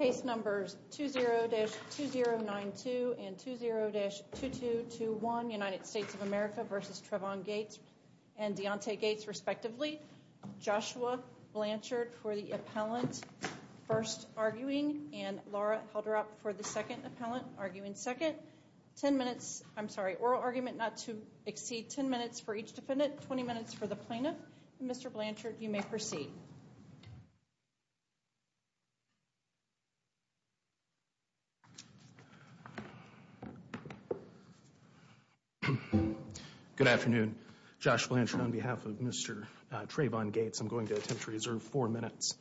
Case numbers 20-2092 and 20-2221, United States of America v. Trevon Gates and Deontay Gates, respectively. Joshua Blanchard for the appellant, first arguing, and Laura Halderup for the second appellant, arguing second. 10 minutes, I'm sorry, oral argument not to exceed 10 minutes for each defendant, 20 minutes for the plaintiff. Mr. Blanchard, you may proceed. Good afternoon. Josh Blanchard on behalf of Mr. Trevon Gates. I'm going to attempt to reserve four minutes.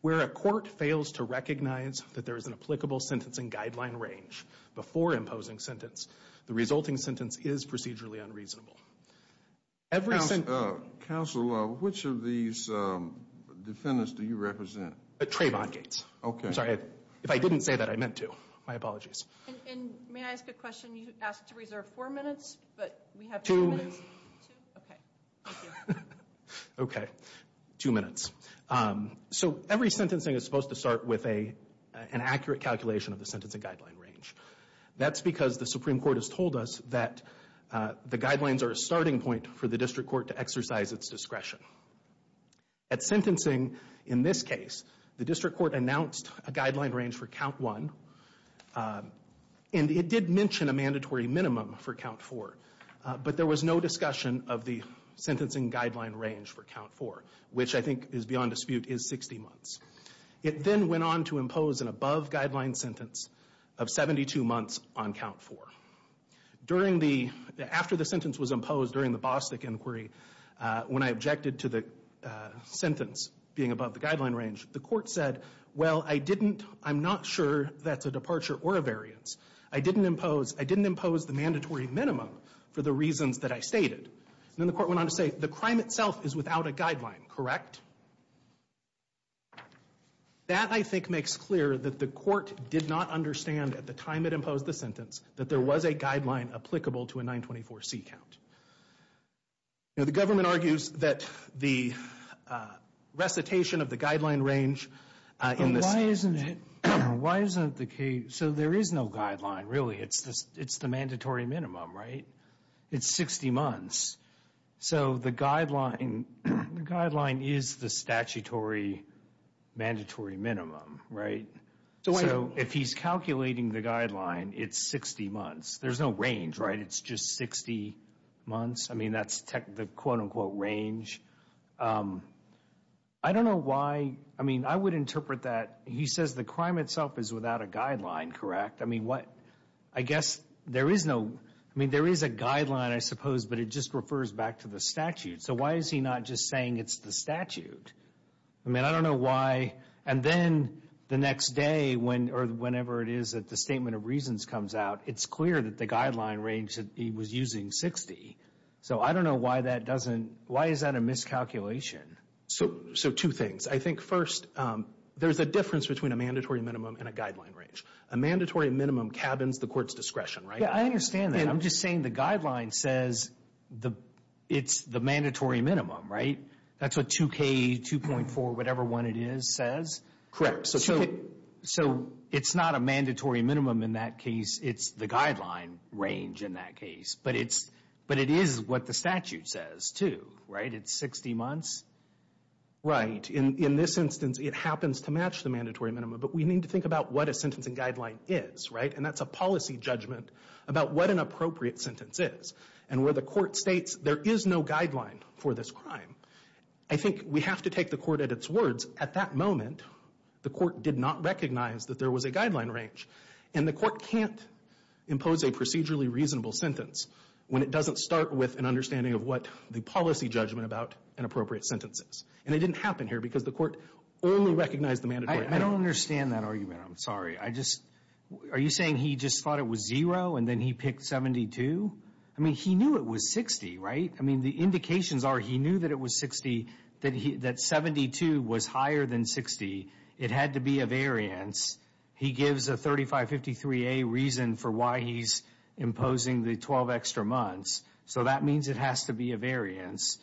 Where a court fails to recognize that there is an applicable sentencing guideline range before imposing sentence, the resulting sentence is procedurally unreasonable. Counsel, which of these defendants do you represent? Trevon Gates. Okay. I'm sorry, if I didn't say that, I meant to. My apologies. And may I ask a question? You asked to reserve four minutes, but we have two minutes. Two. Okay, thank you. Okay, two minutes. So every sentencing is supposed to start with an accurate calculation of the sentencing guideline range. That's because the Supreme Court has told us that the guidelines are a starting point for the district court to exercise its discretion. At sentencing, in this case, the district court announced a guideline range for count one. And it did mention a mandatory minimum for count four. But there was no discussion of the sentencing guideline range for count four, which I think is beyond dispute is 60 months. It then went on to impose an above guideline sentence of 72 months on count four. During the, after the sentence was imposed during the Bostic inquiry, when I objected to the sentence being above the guideline range, the court said, well, I didn't, I'm not sure that's a departure or a variance. I didn't impose, I didn't impose the mandatory minimum for the reasons that I stated. And then the court went on to say, the crime itself is without a guideline, correct? That, I think, makes clear that the court did not understand at the time it imposed the sentence that there was a guideline applicable to a 924C count. Now, the government argues that the recitation of the guideline range in this. But why isn't it, why isn't the case, so there is no guideline, really. It's the mandatory minimum, right? It's 60 months. So the guideline, the guideline is the statutory mandatory minimum, right? So if he's calculating the guideline, it's 60 months. There's no range, right? It's just 60 months. I mean, that's the quote unquote range. I don't know why, I mean, I would interpret that, he says the crime itself is without a guideline, correct? I mean, what, I guess there is no, I mean, there is a guideline, I suppose, but it just refers back to the statute. So why is he not just saying it's the statute? I mean, I don't know why, and then the next day, or whenever it is that the statement of reasons comes out, it's clear that the guideline range that he was using, 60. So I don't know why that doesn't, why is that a miscalculation? So two things. I think, first, there's a difference between a mandatory minimum and a guideline range. A mandatory minimum cabins the court's discretion, right? Yeah, I understand that. I'm just saying the guideline says it's the mandatory minimum, right? That's what 2K, 2.4, whatever one it is, says? Correct. So it's not a mandatory minimum in that case, it's the guideline range in that case, but it is what the statute says, too, right? It's 60 months. Right. In this instance, it happens to match the mandatory minimum, but we need to think about what a sentencing guideline is, right? And that's a policy judgment about what an appropriate sentence is. And where the court states there is no guideline for this crime, I think we have to take the court at its words. At that moment, the court did not recognize that there was a guideline range, and the court can't impose a procedurally reasonable sentence when it doesn't start with an understanding of what the policy judgment about an appropriate sentence is. And it didn't happen here because the court only recognized the mandatory minimum. I don't understand that argument. I'm sorry. Are you saying he just thought it was zero and then he picked 72? I mean, he knew it was 60, right? I mean, the indications are he knew that it was 60, that 72 was higher than 60. It had to be a variance. He gives a 3553A reason for why he's imposing the 12 extra months, so that means it has to be a variance.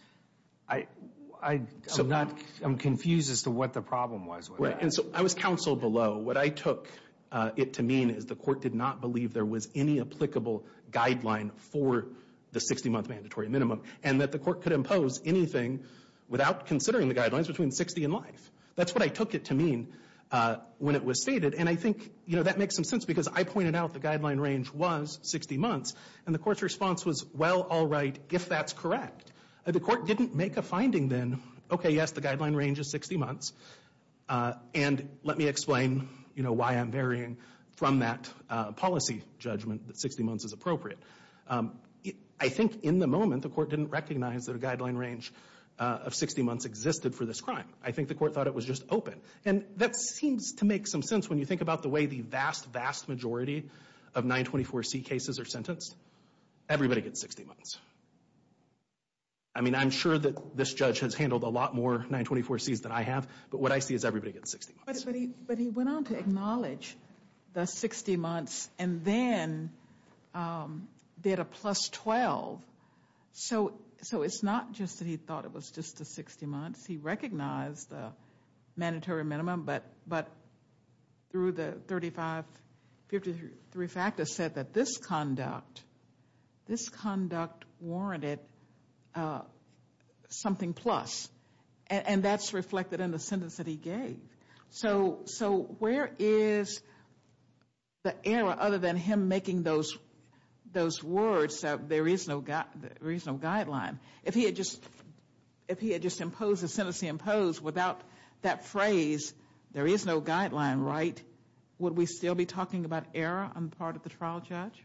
I'm confused as to what the problem was with that. Right. And so I was counseled below. What I took it to mean is the court did not believe there was any applicable guideline for the 60-month mandatory minimum, and that the court could impose anything without considering the guidelines between 60 and life. That's what I took it to mean when it was stated. And I think, you know, that makes some sense because I pointed out the guideline range was 60 months, and the court's response was, well, all right, if that's correct. If the court didn't make a finding then, okay, yes, the guideline range is 60 months, and let me explain, you know, why I'm varying from that policy judgment that 60 months is appropriate. I think in the moment the court didn't recognize that a guideline range of 60 months existed for this crime. I think the court thought it was just open, and that seems to make some sense when you think about the way the vast, vast majority of 924C cases are sentenced. Everybody gets 60 months. I mean, I'm sure that this judge has handled a lot more 924Cs than I have, but what I see is everybody gets 60 months. But he went on to acknowledge the 60 months, and then they had a plus 12. So it's not just that he thought it was just the 60 months. He recognized the mandatory minimum, but through the 35, 53 factors said that this conduct warranted something plus, and that's reflected in the sentence that he gave. So where is the error other than him making those words that there is no guideline? If he had just imposed the sentence he imposed without that phrase, there is no guideline, right, would we still be talking about error on the part of the trial judge?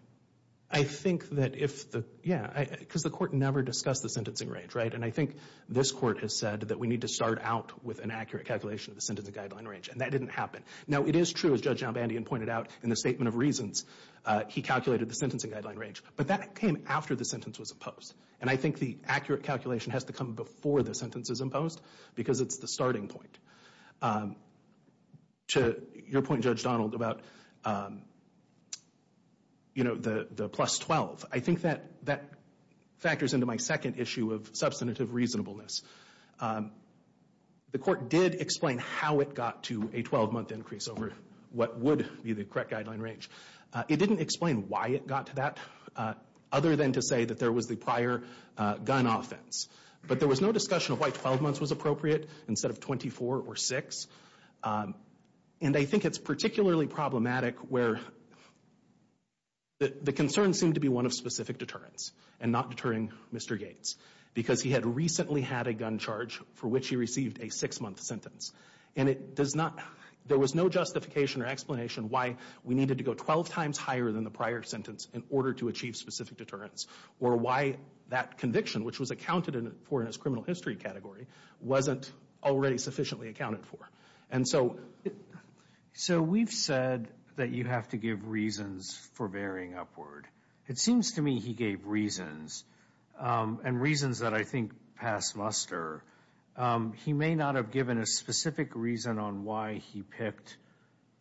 I think that if the, yeah, because the court never discussed the sentencing range, right? And I think this court has said that we need to start out with an accurate calculation of the sentencing guideline range, and that didn't happen. Now, it is true, as Judge Janbandian pointed out in the statement of reasons, he calculated the sentencing guideline range, but that came after the sentence was imposed. And I think the accurate calculation has to come before the sentence is imposed, because it's the starting point. To your point, Judge Donald, about, you know, the plus 12, I think that factors into my second issue of substantive reasonableness. The court did explain how it got to a 12-month increase over what would be the correct guideline range. It didn't explain why it got to that, other than to say that there was the prior gun offense. But there was no discussion of why 12 months was appropriate instead of 24 or 6. And I think it's particularly problematic where the concerns seem to be one of specific deterrence and not deterring Mr. Gates, because he had recently had a gun charge for which he received a six-month sentence. And it does not, there was no justification or explanation why we needed to go 12 times higher than the prior sentence in order to achieve specific deterrence, or why that conviction, which was accounted for in his criminal history category, wasn't already sufficiently accounted for. And so we've said that you have to give reasons for varying upward. It seems to me he gave reasons, and reasons that I think pass muster. He may not have given a specific reason on why he picked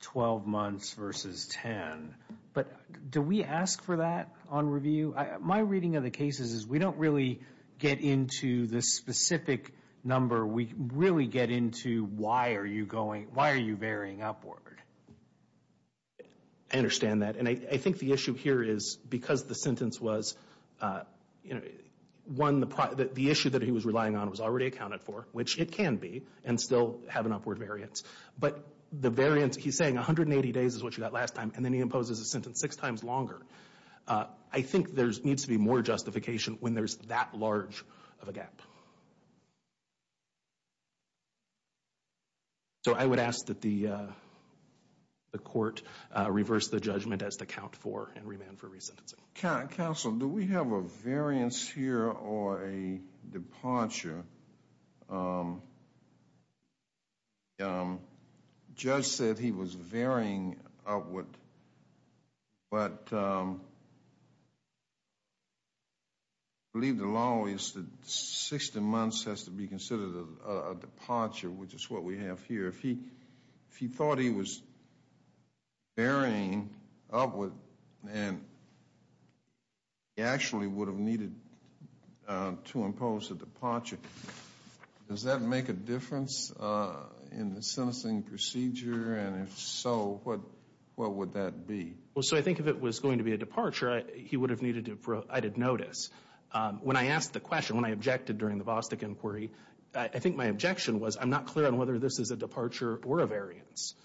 12 months versus 10, but do we ask for that on review? My reading of the cases is we don't really get into the specific number. We really get into why are you varying upward. I understand that. And I think the issue here is because the sentence was one, the issue that he was relying on was already accounted for, which it can be, and still have an upward variance. But the variance, he's saying 180 days is what you got last time, and then he imposes a sentence six times longer. I think there needs to be more justification when there's that large of a gap. So I would ask that the court reverse the judgment as to count for and remand for resentencing. Counsel, do we have a variance here or a departure? Departure. The judge said he was varying upward, but I believe the law is that 16 months has to be considered a departure, which is what we have here. If he thought he was varying upward and he actually would have needed to impose a departure, does that make a difference in the sentencing procedure? And if so, what would that be? Well, so I think if it was going to be a departure, he would have needed to notice. When I asked the question, when I objected during the Bostic inquiry, I think my objection was I'm not clear on whether this is a departure or a variance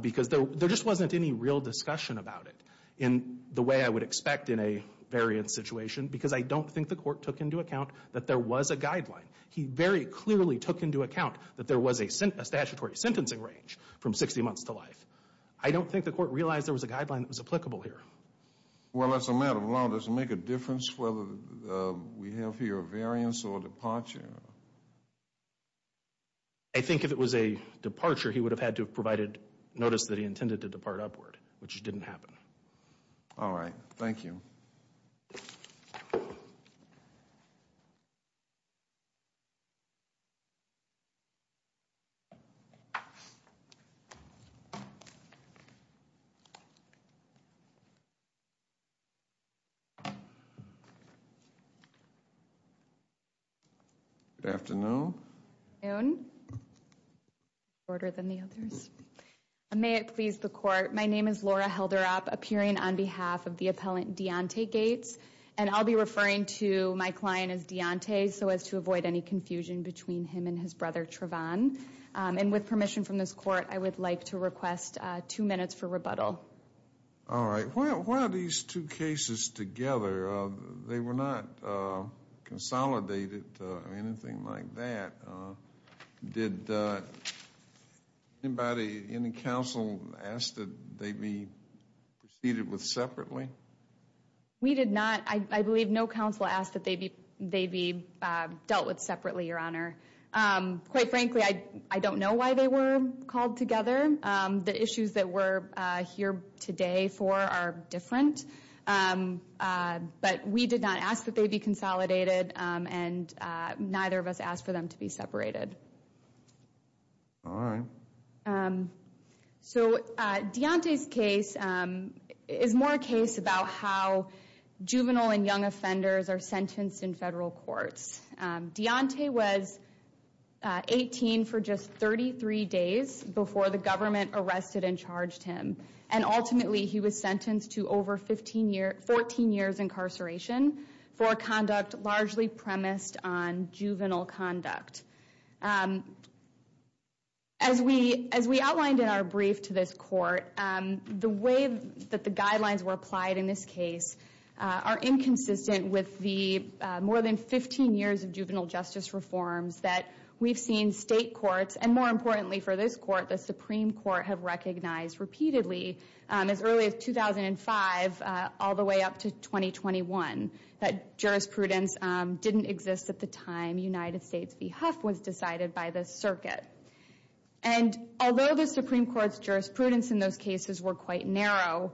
because there just wasn't any real discussion about it in the way I would expect in a variance situation because I don't think the court took into account that there was a guideline. He very clearly took into account that there was a statutory sentencing range from 60 months to life. I don't think the court realized there was a guideline that was applicable here. Well, as a matter of law, does it make a difference whether we have here a variance or a departure? I think if it was a departure, he would have had to have provided notice that he intended to depart upward, which didn't happen. All right. Thank you. Good afternoon. Good afternoon. May it please the court. My name is Laura Helderop, appearing on behalf of the appellant Deontay Gates, and I'll be referring to my client as Deontay so as to avoid any confusion between him and his brother Trevon. And with permission from this court, I would like to request two minutes for rebuttal. All right. Why are these two cases together? They were not consolidated or anything like that. Did anybody in the counsel ask that they be proceeded with separately? We did not. I believe no counsel asked that they be dealt with separately, Your Honor. Quite frankly, I don't know why they were called together. The issues that we're here today for are different. But we did not ask that they be consolidated, and neither of us asked for them to be separated. All right. So Deontay's case is more a case about how juvenile and young offenders are sentenced in federal courts. Deontay was 18 for just 33 days before the government arrested and charged him, and ultimately he was sentenced to over 14 years incarceration for conduct largely premised on juvenile conduct. As we outlined in our brief to this court, the way that the guidelines were applied in this case are inconsistent with the more than 15 years of juvenile justice reforms that we've seen state courts, and more importantly for this court, the Supreme Court, have recognized repeatedly as early as 2005 all the way up to 2021, that jurisprudence didn't exist at the time United States v. Huff was decided by the circuit. And although the Supreme Court's jurisprudence in those cases were quite narrow,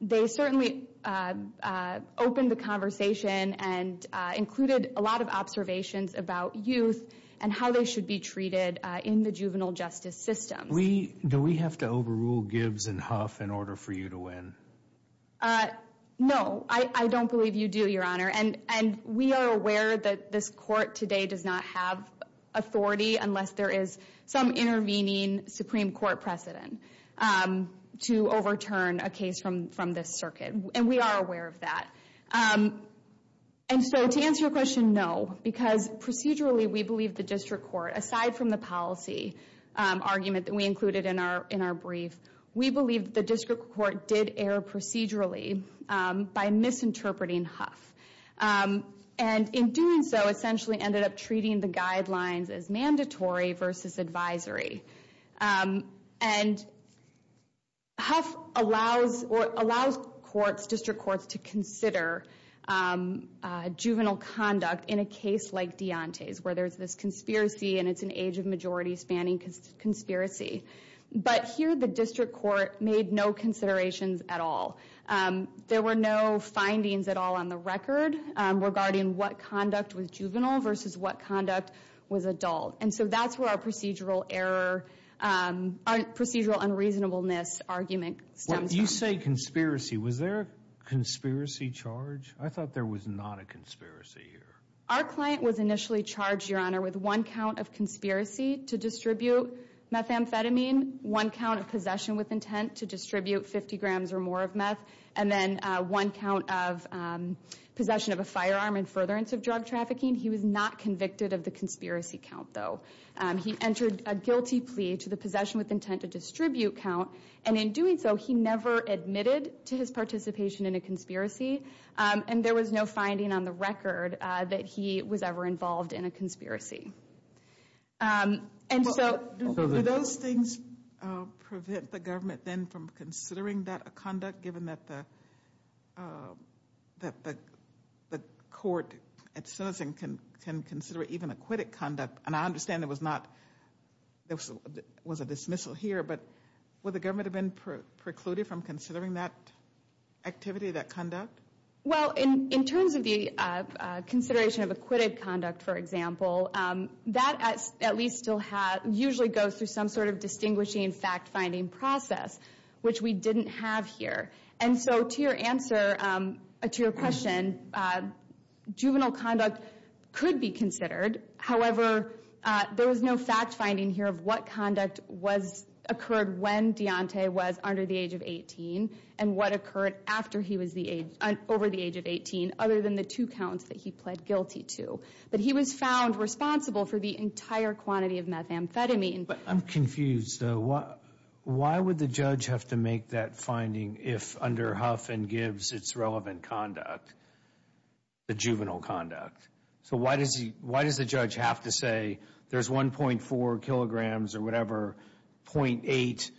they certainly opened the conversation and included a lot of observations about youth and how they should be treated in the juvenile justice system. Do we have to overrule Gibbs and Huff in order for you to win? No, I don't believe you do, Your Honor. And we are aware that this court today does not have authority unless there is some intervening Supreme Court precedent to overturn a case from this circuit, and we are aware of that. And so to answer your question, no, because procedurally we believe the district court, aside from the policy argument that we included in our brief, we believe the district court did err procedurally by misinterpreting Huff. And in doing so, essentially ended up treating the guidelines as mandatory versus advisory. And Huff allows courts, district courts, to consider juvenile conduct in a case like Deontay's, where there's this conspiracy and it's an age of majority spanning conspiracy. But here the district court made no considerations at all. There were no findings at all on the record regarding what conduct was juvenile versus what conduct was adult. And so that's where our procedural error, procedural unreasonableness argument stems from. When you say conspiracy, was there a conspiracy charge? I thought there was not a conspiracy here. Our client was initially charged, Your Honor, with one count of conspiracy to distribute methamphetamine, one count of possession with intent to distribute 50 grams or more of meth, and then one count of possession of a firearm and furtherance of drug trafficking. He was not convicted of the conspiracy count, though. He entered a guilty plea to the possession with intent to distribute count, and in doing so he never admitted to his participation in a conspiracy. And there was no finding on the record that he was ever involved in a conspiracy. And so- Do those things prevent the government then from considering that a conduct, given that the court at citizen can consider it even acquitted conduct? And I understand there was not, there was a dismissal here, but would the government have been precluded from considering that activity, that conduct? Well, in terms of the consideration of acquitted conduct, for example, that at least still usually goes through some sort of distinguishing fact-finding process, which we didn't have here. And so to your answer, to your question, juvenile conduct could be considered. However, there was no fact-finding here of what conduct occurred when Deontay was under the age of 18 and what occurred after he was over the age of 18, other than the two counts that he pled guilty to. But he was found responsible for the entire quantity of methamphetamine. But I'm confused, though. Why would the judge have to make that finding if under Huff and Gibbs it's relevant conduct, the juvenile conduct? So why does he, why does the judge have to say there's 1.4 kilograms or whatever, 0.8,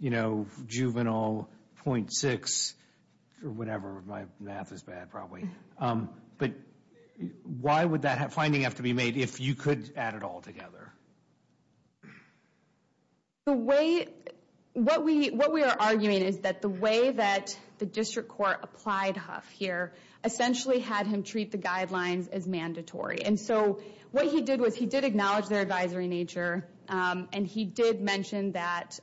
you know, juvenile, 0.6, or whatever, my math is bad probably. But why would that finding have to be made if you could add it all together? The way, what we are arguing is that the way that the district court applied Huff here essentially had him treat the guidelines as mandatory. And so what he did was he did acknowledge their advisory nature, and he did mention that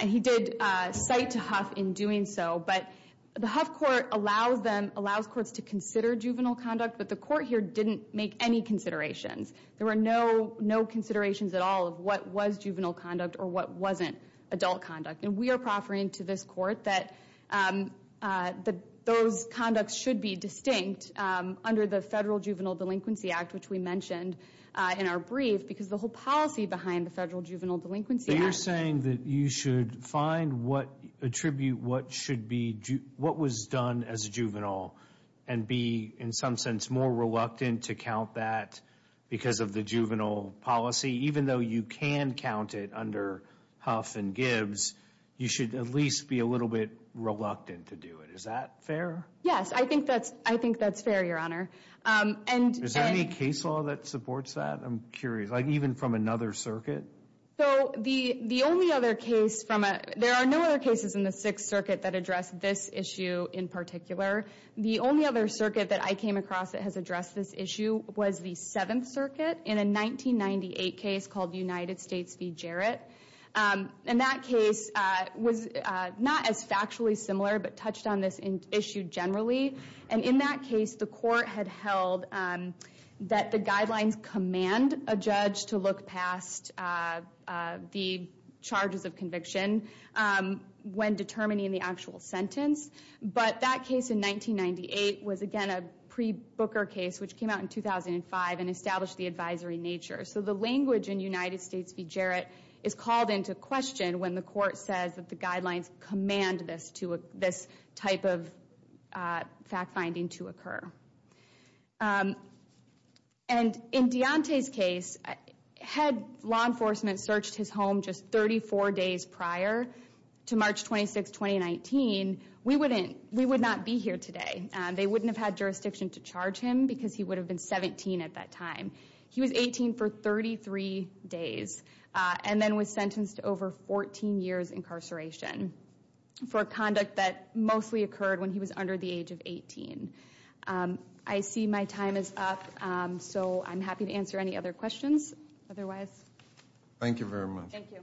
he did cite to Huff in doing so. But the Huff court allows them, allows courts to consider juvenile conduct, but the court here didn't make any considerations. There were no considerations at all of what was juvenile conduct or what wasn't adult conduct. And we are proffering to this court that those conducts should be distinct under the Federal Juvenile Delinquency Act, which we mentioned in our brief, because the whole policy behind the Federal Juvenile Delinquency Act. But you're saying that you should find what attribute what should be, what was done as a juvenile, and be in some sense more reluctant to count that because of the juvenile policy, even though you can count it under Huff and Gibbs, you should at least be a little bit reluctant to do it. Is that fair? Yes, I think that's fair, Your Honor. Is there any case law that supports that? I'm curious. Like even from another circuit? So the only other case from a, there are no other cases in the Sixth Circuit that address this issue in particular. The only other circuit that I came across that has addressed this issue was the Seventh Circuit in a 1998 case called United States v. Jarrett. And that case was not as factually similar, but touched on this issue generally. And in that case, the court had held that the guidelines command a judge to look past the charges of conviction when determining the actual sentence. But that case in 1998 was, again, a pre-Booker case, which came out in 2005 and established the advisory nature. So the language in United States v. Jarrett is called into question when the court says that the guidelines command this type of fact-finding to occur. And in Deontay's case, had law enforcement searched his home just 34 days prior to March 26, 2019, we would not be here today. They wouldn't have had jurisdiction to charge him because he would have been 17 at that time. He was 18 for 33 days and then was sentenced to over 14 years incarceration for a conduct that mostly occurred when he was under the age of 18. I see my time is up, so I'm happy to answer any other questions otherwise. Thank you very much. Thank you.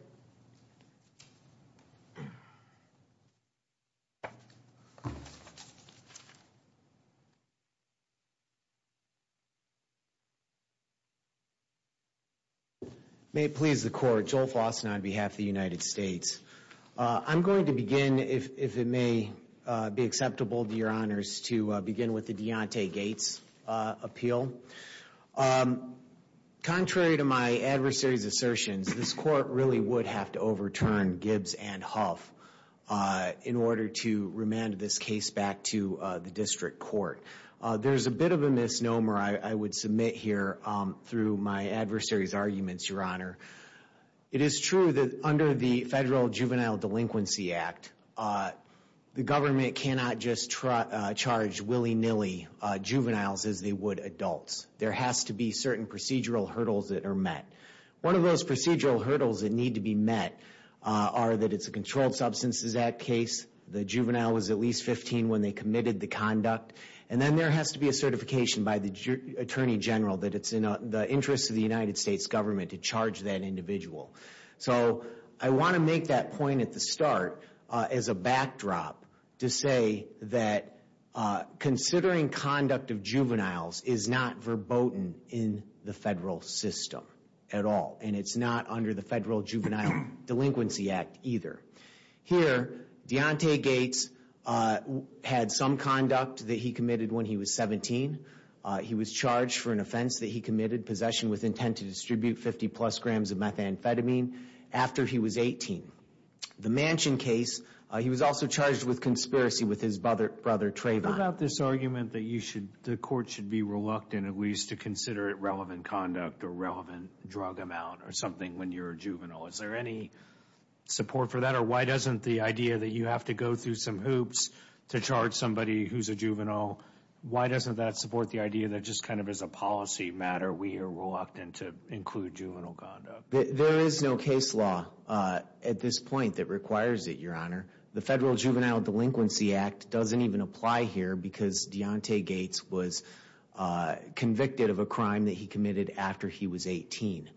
May it please the Court, Joel Fossen on behalf of the United States. I'm going to begin, if it may be acceptable to your honors, to begin with the Deontay Gates appeal. Contrary to my adversary's assertions, this court really would have to overturn Gibbs and Huff in order to remand this case back to the district court. There's a bit of a misnomer I would submit here through my adversary's arguments, your honor. It is true that under the Federal Juvenile Delinquency Act, the government cannot just charge willy-nilly juveniles as they would adults. There has to be certain procedural hurdles that are met. One of those procedural hurdles that need to be met are that it's a Controlled Substances Act case. The juvenile was at least 15 when they committed the conduct. And then there has to be a certification by the Attorney General that it's in the interest of the United States government to charge that individual. So I want to make that point at the start as a backdrop to say that considering conduct of juveniles is not verboten in the federal system at all. And it's not under the Federal Juvenile Delinquency Act either. Here, Deontay Gates had some conduct that he committed when he was 17. He was charged for an offense that he committed, possession with intent to distribute 50-plus grams of methamphetamine, after he was 18. The Manchin case, he was also charged with conspiracy with his brother Trayvon. What about this argument that the court should be reluctant at least to consider it relevant conduct or relevant drug amount or something when you're a juvenile? Is there any support for that? Or why doesn't the idea that you have to go through some hoops to charge somebody who's a juvenile, why doesn't that support the idea that just kind of as a policy matter, we are reluctant to include juvenile conduct? There is no case law at this point that requires it, Your Honor. The Federal Juvenile Delinquency Act doesn't even apply here because Deontay Gates was convicted of a crime that he committed after he was 18.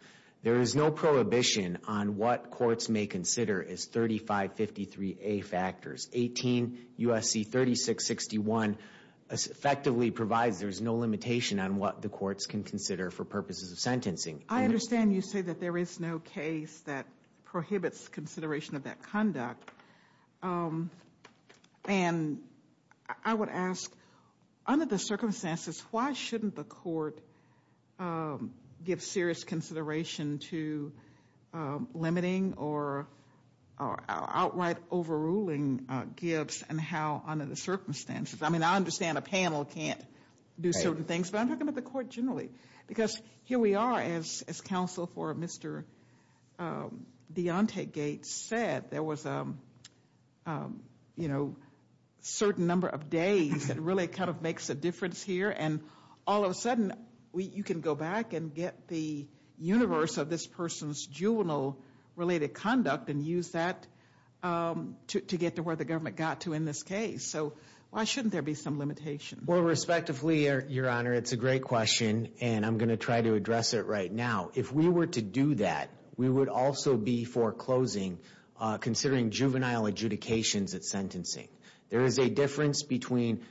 There is no prohibition on what courts may consider as 3553A factors. 18 U.S.C. 3661 effectively provides there's no limitation on what the courts can consider for purposes of sentencing. I understand you say that there is no case that prohibits consideration of that conduct. And I would ask, under the circumstances, why shouldn't the court give serious consideration to limiting or outright overruling gifts and how under the circumstances? I mean, I understand a panel can't do certain things, but I'm talking about the court generally. Because here we are, as counsel for Mr. Deontay Gates said, there was a certain number of days that really kind of makes a difference here. And all of a sudden, you can go back and get the universe of this person's juvenile-related conduct and use that to get to where the government got to in this case. So why shouldn't there be some limitation? Well, respectively, Your Honor, it's a great question, and I'm going to try to address it right now. If we were to do that, we would also be foreclosing, considering juvenile adjudications at sentencing. There is a difference between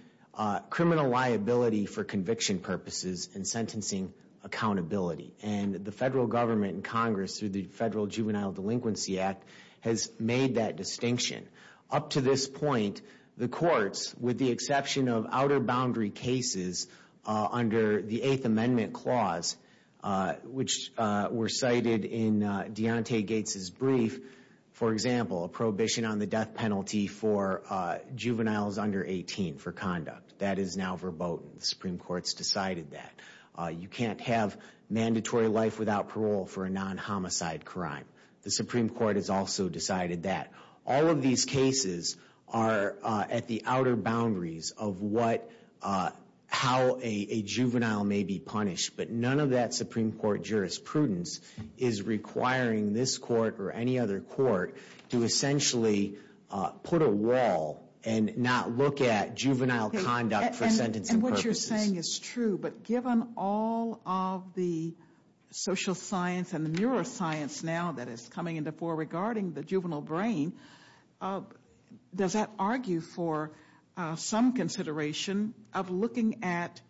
criminal liability for conviction purposes and sentencing accountability. And the federal government and Congress, through the Federal Juvenile Delinquency Act, has made that distinction. Up to this point, the courts, with the exception of outer boundary cases under the Eighth Amendment Clause, which were cited in Deontay Gates' brief, for example, a prohibition on the death penalty for juveniles under 18 for conduct. That is now verboten. The Supreme Court's decided that. You can't have mandatory life without parole for a non-homicide crime. The Supreme Court has also decided that. All of these cases are at the outer boundaries of how a juvenile may be punished. But none of that Supreme Court jurisprudence is requiring this court or any other court to essentially put a wall and not look at juvenile conduct for sentencing purposes. And what you're saying is true. But given all of the social science and the neuroscience now that is coming into fore regarding the juvenile brain, does that argue for some consideration of looking at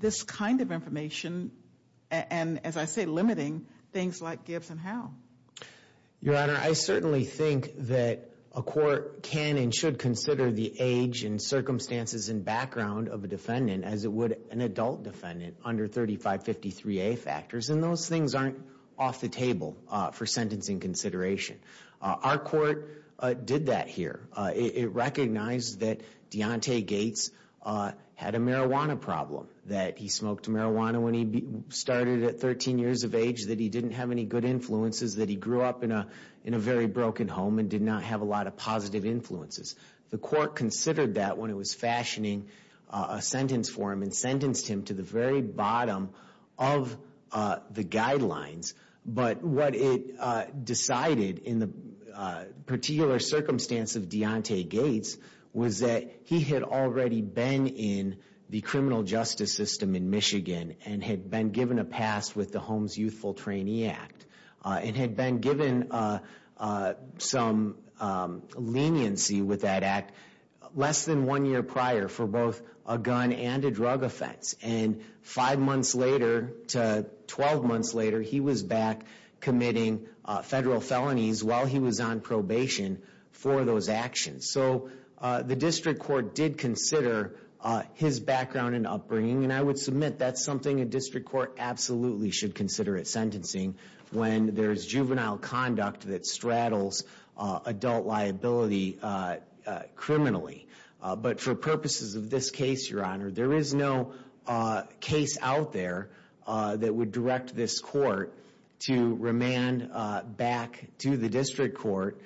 this kind of information and, as I say, limiting things like gives and how? Your Honor, I certainly think that a court can and should consider the age and circumstances and background of a defendant as it would an adult defendant under 3553A factors. And those things aren't off the table for sentencing consideration. Our court did that here. It recognized that Deontay Gates had a marijuana problem, that he smoked marijuana when he started at 13 years of age, that he didn't have any good influences, that he grew up in a very broken home and did not have a lot of positive influences. The court considered that when it was fashioning a sentence for him and sentenced him to the very bottom of the guidelines. But what it decided in the particular circumstance of Deontay Gates was that he had already been in the criminal justice system in Michigan and had been given a pass with the Homes Youthful Trainee Act and had been given some leniency with that act less than one year prior for both a gun and a drug offense. And five months later to 12 months later, he was back committing federal felonies while he was on probation for those actions. So the district court did consider his background and upbringing. And I would submit that's something a district court absolutely should consider at sentencing when there's juvenile conduct that straddles adult liability criminally. But for purposes of this case, Your Honor, there is no case out there that would direct this court to remand back to the district court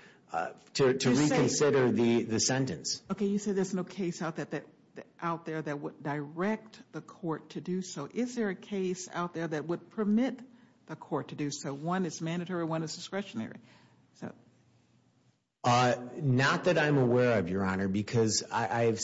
to reconsider the sentence. Okay, you said there's no case out there that would direct the court to do so. Is there a case out there that would permit the court to do so? One is mandatory, one is discretionary. Not that I'm aware of, Your Honor, because I've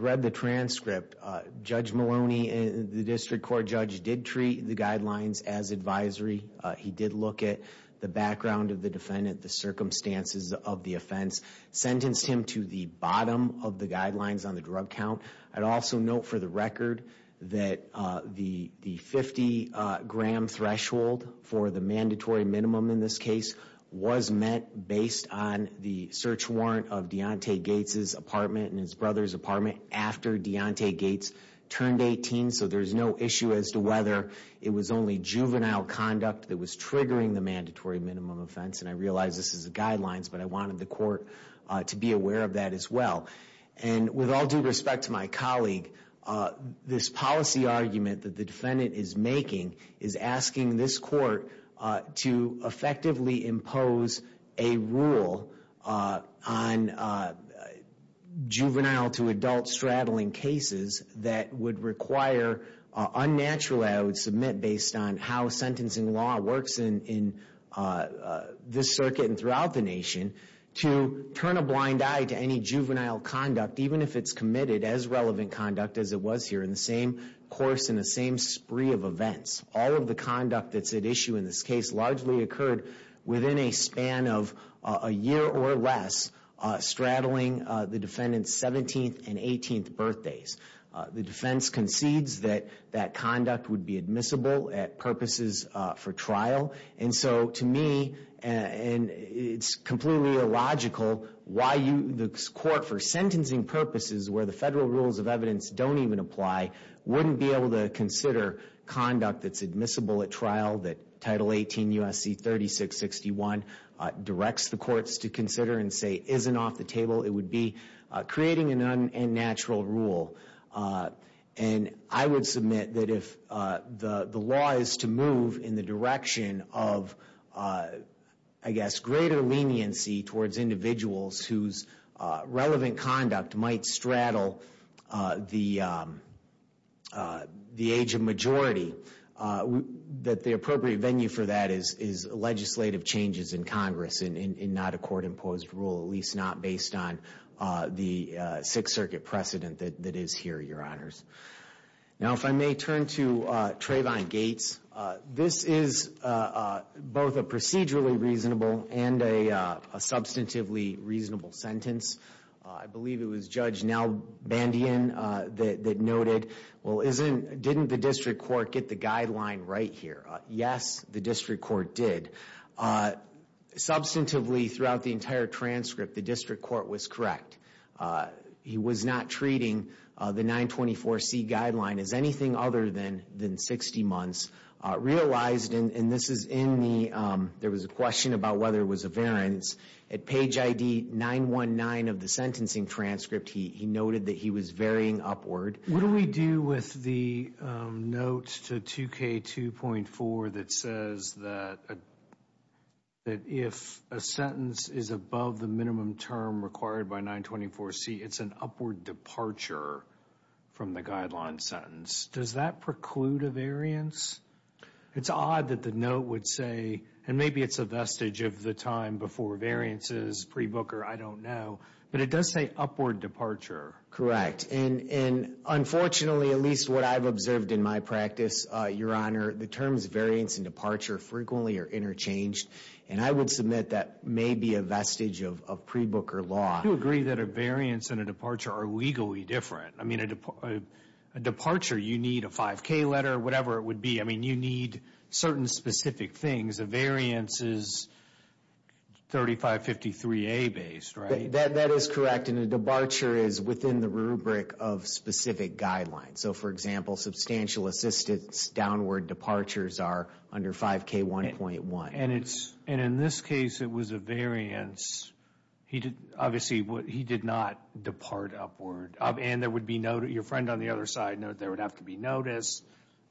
read the transcript. Judge Maloney, the district court judge, did treat the guidelines as advisory. He did look at the background of the defendant, the circumstances of the offense, sentenced him to the bottom of the guidelines on the drug count. I'd also note for the record that the 50-gram threshold for the mandatory minimum in this case was met based on the search warrant of Deontay Gates' apartment and his brother's apartment after Deontay Gates turned 18. So there's no issue as to whether it was only juvenile conduct that was triggering the mandatory minimum offense. And I realize this is the guidelines, but I wanted the court to be aware of that as well. And with all due respect to my colleague, this policy argument that the defendant is making is asking this court to effectively impose a rule on juvenile-to-adult straddling cases that would require unnaturally, I would submit, based on how sentencing law works in this circuit and throughout the nation, to turn a blind eye to any juvenile conduct, even if it's committed as relevant conduct as it was here in the same course and the same spree of events. All of the conduct that's at issue in this case largely occurred within a span of a year or less straddling the defendant's 17th and 18th birthdays. The defense concedes that that conduct would be admissible at purposes for trial. And so to me, it's completely illogical why the court, for sentencing purposes where the federal rules of evidence don't even apply, wouldn't be able to consider conduct that's admissible at trial, that Title 18 U.S.C. 3661 directs the courts to consider and say isn't off the table. It would be creating an unnatural rule. And I would submit that if the law is to move in the direction of, I guess, greater leniency towards individuals whose relevant conduct might straddle the age of majority, that the appropriate venue for that is legislative changes in Congress and not a court-imposed rule, at least not based on the Sixth Circuit precedent that is here, Your Honors. Now, if I may turn to Trayvon Gates. This is both a procedurally reasonable and a substantively reasonable sentence. I believe it was Judge Nel Bandian that noted, well, didn't the district court get the guideline right here? Yes, the district court did. Substantively, throughout the entire transcript, the district court was correct. He was not treating the 924C guideline as anything other than 60 months. Realized, and this is in the, there was a question about whether it was a variance. At page ID 919 of the sentencing transcript, he noted that he was varying upward. What do we do with the note to 2K2.4 that says that if a sentence is above the minimum term required by 924C, it's an upward departure from the guideline sentence? Does that preclude a variance? It's odd that the note would say, and maybe it's a vestige of the time before variances, pre-Booker, I don't know, but it does say upward departure. Correct, and unfortunately, at least what I've observed in my practice, Your Honor, the terms variance and departure frequently are interchanged, and I would submit that may be a vestige of pre-Booker law. You agree that a variance and a departure are legally different. I mean, a departure, you need a 5K letter, whatever it would be. I mean, you need certain specific things. A variance is 3553A based, right? That is correct, and a departure is within the rubric of specific guidelines. So, for example, substantial assistance downward departures are under 5K1.1. And in this case, it was a variance. Obviously, he did not depart upward. And your friend on the other side noted there would have to be notice,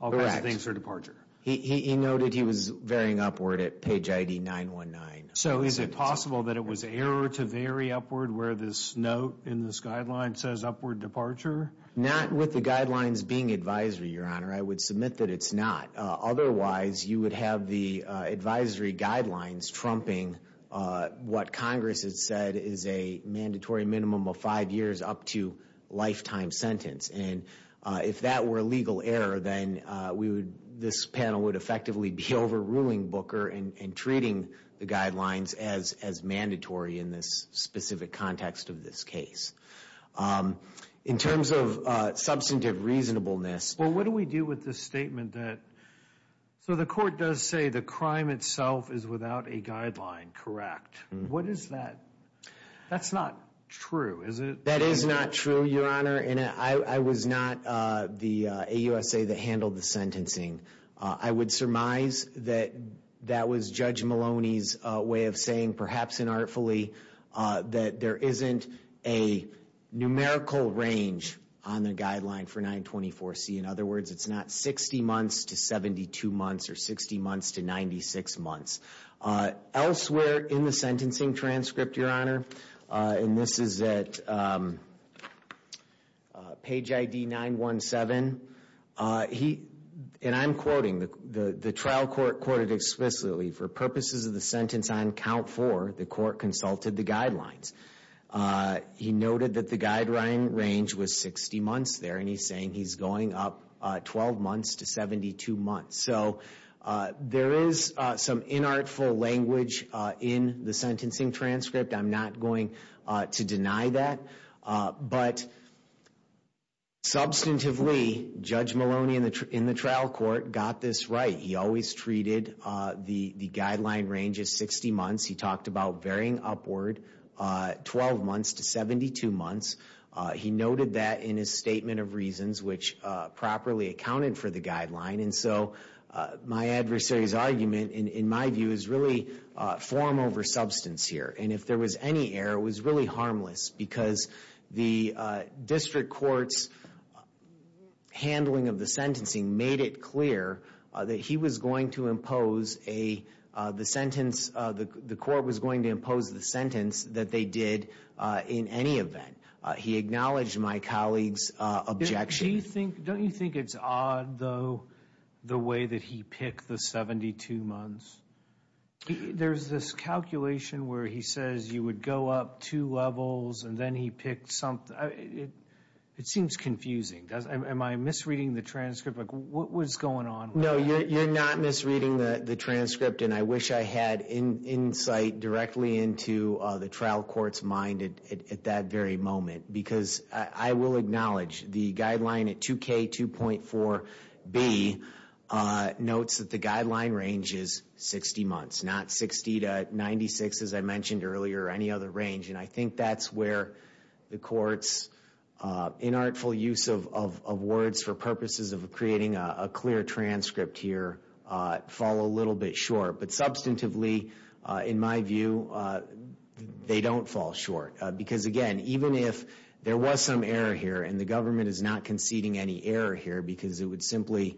all kinds of things for departure. Correct. He noted he was varying upward at page ID 919. So is it possible that it was error to vary upward where this note in this guideline says upward departure? Not with the guidelines being advisory, Your Honor. I would submit that it's not. Otherwise, you would have the advisory guidelines trumping what Congress has said is a mandatory minimum of five years up to lifetime sentence. And if that were a legal error, then we would, this panel would effectively be overruling Booker and treating the guidelines as mandatory in this specific context of this case. In terms of substantive reasonableness. Well, what do we do with this statement that, so the court does say the crime itself is without a guideline, correct? What is that? That's not true, is it? That is not true, Your Honor. And I was not the AUSA that handled the sentencing. I would surmise that that was Judge Maloney's way of saying, perhaps inartfully, that there isn't a numerical range on the guideline for 924C. In other words, it's not 60 months to 72 months or 60 months to 96 months. Elsewhere in the sentencing transcript, Your Honor, and this is at page ID 917, he, and I'm quoting, the trial court quoted explicitly, for purposes of the sentence on count four, the court consulted the guidelines. He noted that the guideline range was 60 months there, and he's saying he's going up 12 months to 72 months. So there is some inartful language in the sentencing transcript. I'm not going to deny that. But substantively, Judge Maloney in the trial court got this right. He always treated the guideline range as 60 months. He talked about varying upward 12 months to 72 months. He noted that in his statement of reasons, which properly accounted for the guideline. And so my adversary's argument, in my view, is really form over substance here. And if there was any error, it was really harmless, because the district court's handling of the sentencing made it clear that he was going to impose a, the sentence, the court was going to impose the sentence that they did in any event. He acknowledged my colleague's objection. Don't you think it's odd, though, the way that he picked the 72 months? There's this calculation where he says you would go up two levels, and then he picked something. It seems confusing. Am I misreading the transcript? Like, what was going on? No, you're not misreading the transcript. And I wish I had insight directly into the trial court's mind at that very moment. Because I will acknowledge the guideline at 2K2.4B notes that the guideline range is 60 months, not 60 to 96, as I mentioned earlier, or any other range. And I think that's where the court's inartful use of words for purposes of creating a clear transcript here fall a little bit short. But substantively, in my view, they don't fall short. Because, again, even if there was some error here, and the government is not conceding any error here, because it would simply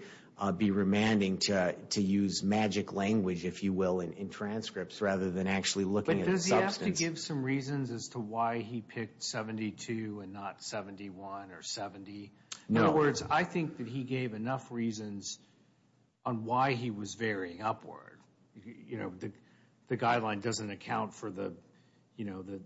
be remanding to use magic language, if you will, in transcripts, rather than actually looking at the substance. But does he have to give some reasons as to why he picked 72 and not 71 or 70? In other words, I think that he gave enough reasons on why he was varying upward. The guideline doesn't account for the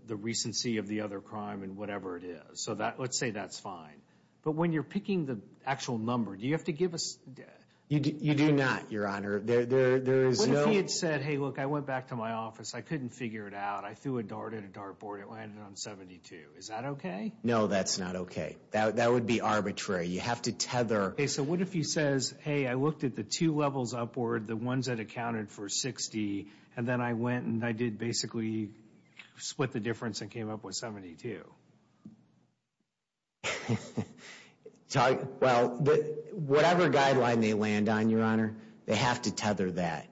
recency of the other crime and whatever it is. So let's say that's fine. But when you're picking the actual number, do you have to give us – You do not, Your Honor. What if he had said, hey, look, I went back to my office, I couldn't figure it out, I threw a dart at a dartboard, it landed on 72. Is that okay? No, that's not okay. That would be arbitrary. You have to tether – And then I went and I did basically split the difference and came up with 72. Well, whatever guideline they land on, Your Honor, they have to tether that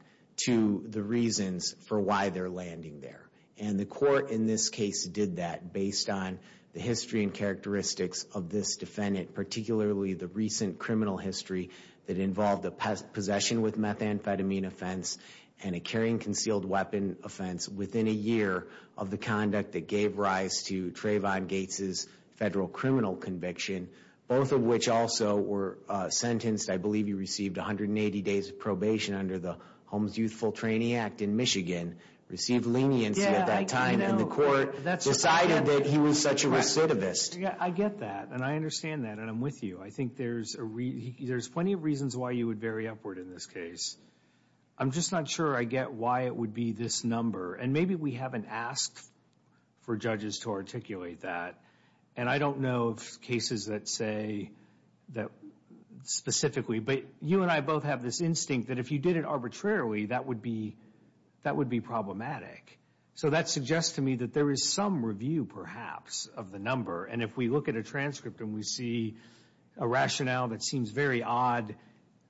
to the reasons for why they're landing there. And the court in this case did that based on the history and characteristics of this defendant, particularly the recent criminal history that involved a possession with methamphetamine offense and a carrying concealed weapon offense within a year of the conduct that gave rise to Trayvon Gates' federal criminal conviction, both of which also were sentenced. I believe he received 180 days of probation under the Holmes Youthful Trainee Act in Michigan, received leniency at that time in the court, decided that he was such a recidivist. I get that. And I understand that. And I'm with you. I think there's plenty of reasons why you would vary upward in this case. I'm just not sure I get why it would be this number. And maybe we haven't asked for judges to articulate that. And I don't know of cases that say that specifically. But you and I both have this instinct that if you did it arbitrarily, that would be problematic. So that suggests to me that there is some review, perhaps, of the number. And if we look at a transcript and we see a rationale that seems very odd,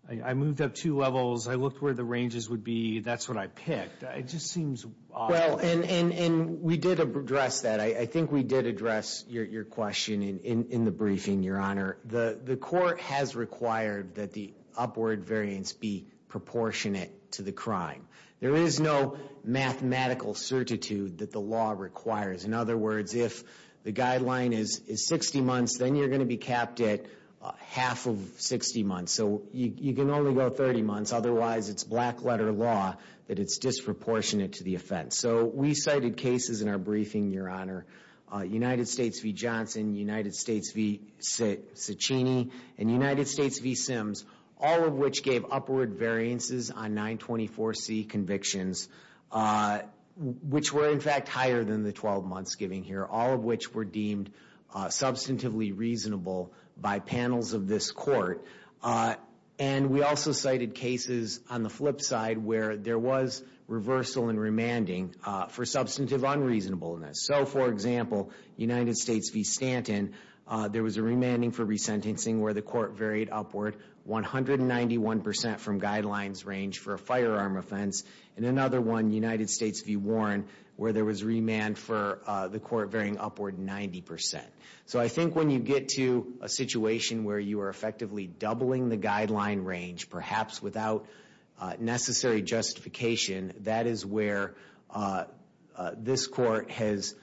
I moved up two levels, I looked where the ranges would be, that's what I picked. It just seems odd. Well, and we did address that. I think we did address your question in the briefing, Your Honor. The court has required that the upward variance be proportionate to the crime. There is no mathematical certitude that the law requires. In other words, if the guideline is 60 months, then you're going to be capped at half of 60 months. So you can only go 30 months. Otherwise, it's black-letter law that it's disproportionate to the offense. So we cited cases in our briefing, Your Honor. United States v. Johnson, United States v. Ciccini, and United States v. Sims, all of which gave upward variances on 924C convictions, which were, in fact, higher than the 12 months given here, all of which were deemed substantively reasonable by panels of this court. And we also cited cases on the flip side where there was reversal and remanding for substantive unreasonableness. So, for example, United States v. Stanton, there was a remanding for resentencing where the court varied upward 191 percent from guidelines range for a firearm offense. And another one, United States v. Warren, where there was remand for the court varying upward 90 percent. So I think when you get to a situation where you are effectively doubling the guideline range, perhaps without necessary justification, that is where this court has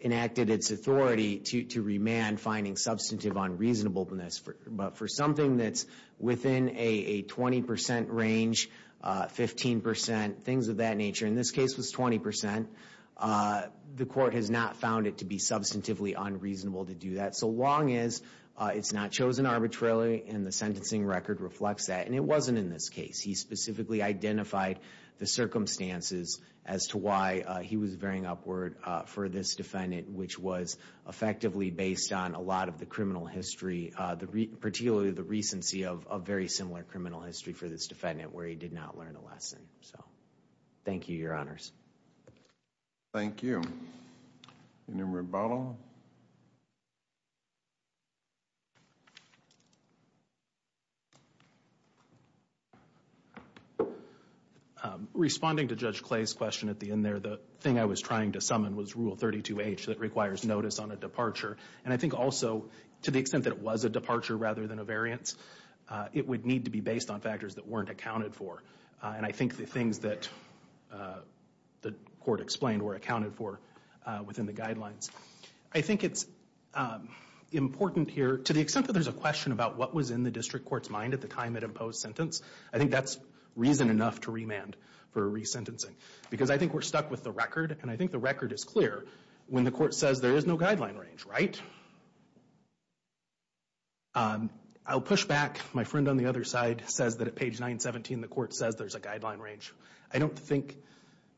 enacted its authority to remand finding substantive unreasonableness. But for something that's within a 20 percent range, 15 percent, things of that nature, and this case was 20 percent, the court has not found it to be substantively unreasonable to do that, so long as it's not chosen arbitrarily and the sentencing record reflects that. And it wasn't in this case. He specifically identified the circumstances as to why he was varying upward for this defendant, which was effectively based on a lot of the criminal history, particularly the recency of a very similar criminal history for this defendant where he did not learn a lesson. So, thank you, Your Honors. Thank you. Any more rebuttal? Responding to Judge Clay's question at the end there, the thing I was trying to summon was Rule 32H that requires notice on a departure. And I think also, to the extent that it was a departure rather than a variance, it would need to be based on factors that weren't accounted for. And I think the things that the court explained were accounted for within the guidelines. I think it's important here, to the extent that there's a question about what was in the district court's mind at the time it imposed sentence, I think that's reason enough to remand for resentencing. Because I think we're stuck with the record, and I think the record is clear when the court says there is no guideline range, right? I'll push back. My friend on the other side says that at page 917, the court says there's a guideline range. I don't think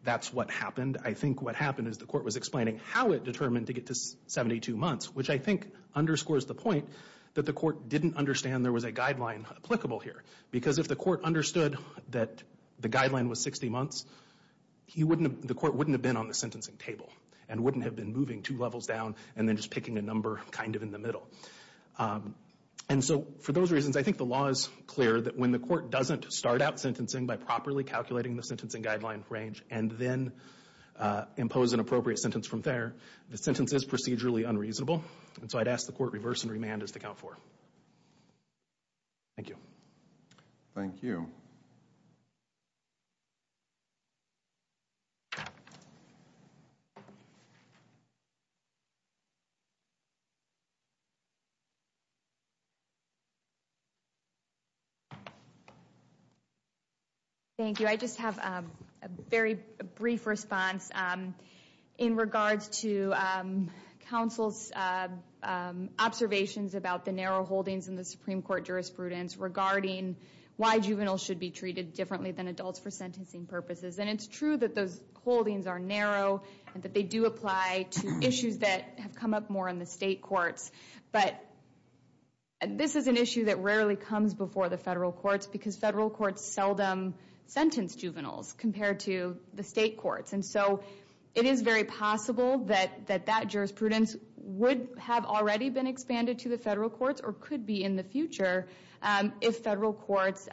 that's what happened. I think what happened is the court was explaining how it determined to get to 72 months, which I think underscores the point that the court didn't understand there was a guideline applicable here. Because if the court understood that the guideline was 60 months, the court wouldn't have been on the sentencing table and wouldn't have been moving two levels down and then just picking a number kind of in the middle. And so for those reasons, I think the law is clear that when the court doesn't start out sentencing by properly calculating the sentencing guideline range and then impose an appropriate sentence from there, the sentence is procedurally unreasonable. And so I'd ask the court reverse and remand as they count for. Thank you. Thank you. Thank you. Thank you. I just have a very brief response in regards to counsel's observations about the narrow holdings in the Supreme Court jurisprudence regarding why juveniles should be treated differently than adults for sentencing purposes. And it's true that those holdings are narrow and that they do apply to issues that have come up more in the state courts. But this is an issue that rarely comes before the federal courts because federal courts seldom sentence juveniles compared to the state courts. And so it is very possible that that jurisprudence would have already been expanded to the federal courts or could be in the future if federal courts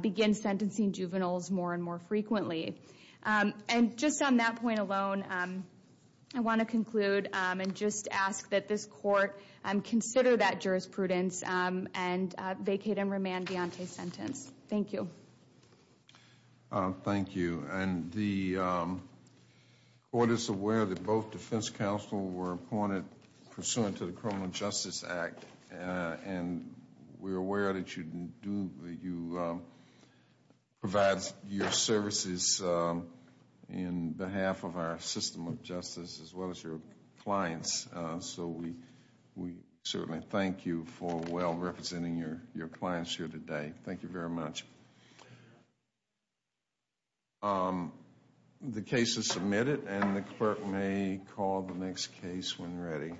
begin sentencing juveniles more and more frequently. And just on that point alone, I want to conclude and just ask that this court consider that jurisprudence and vacate and remand Deontay's sentence. Thank you. Thank you. And the court is aware that both defense counsel were appointed pursuant to the Criminal Justice Act. And we're aware that you provide your services in behalf of our system of justice as well as your clients. So we certainly thank you for well representing your clients here today. Thank you very much. The case is submitted and the clerk may call the next case when ready.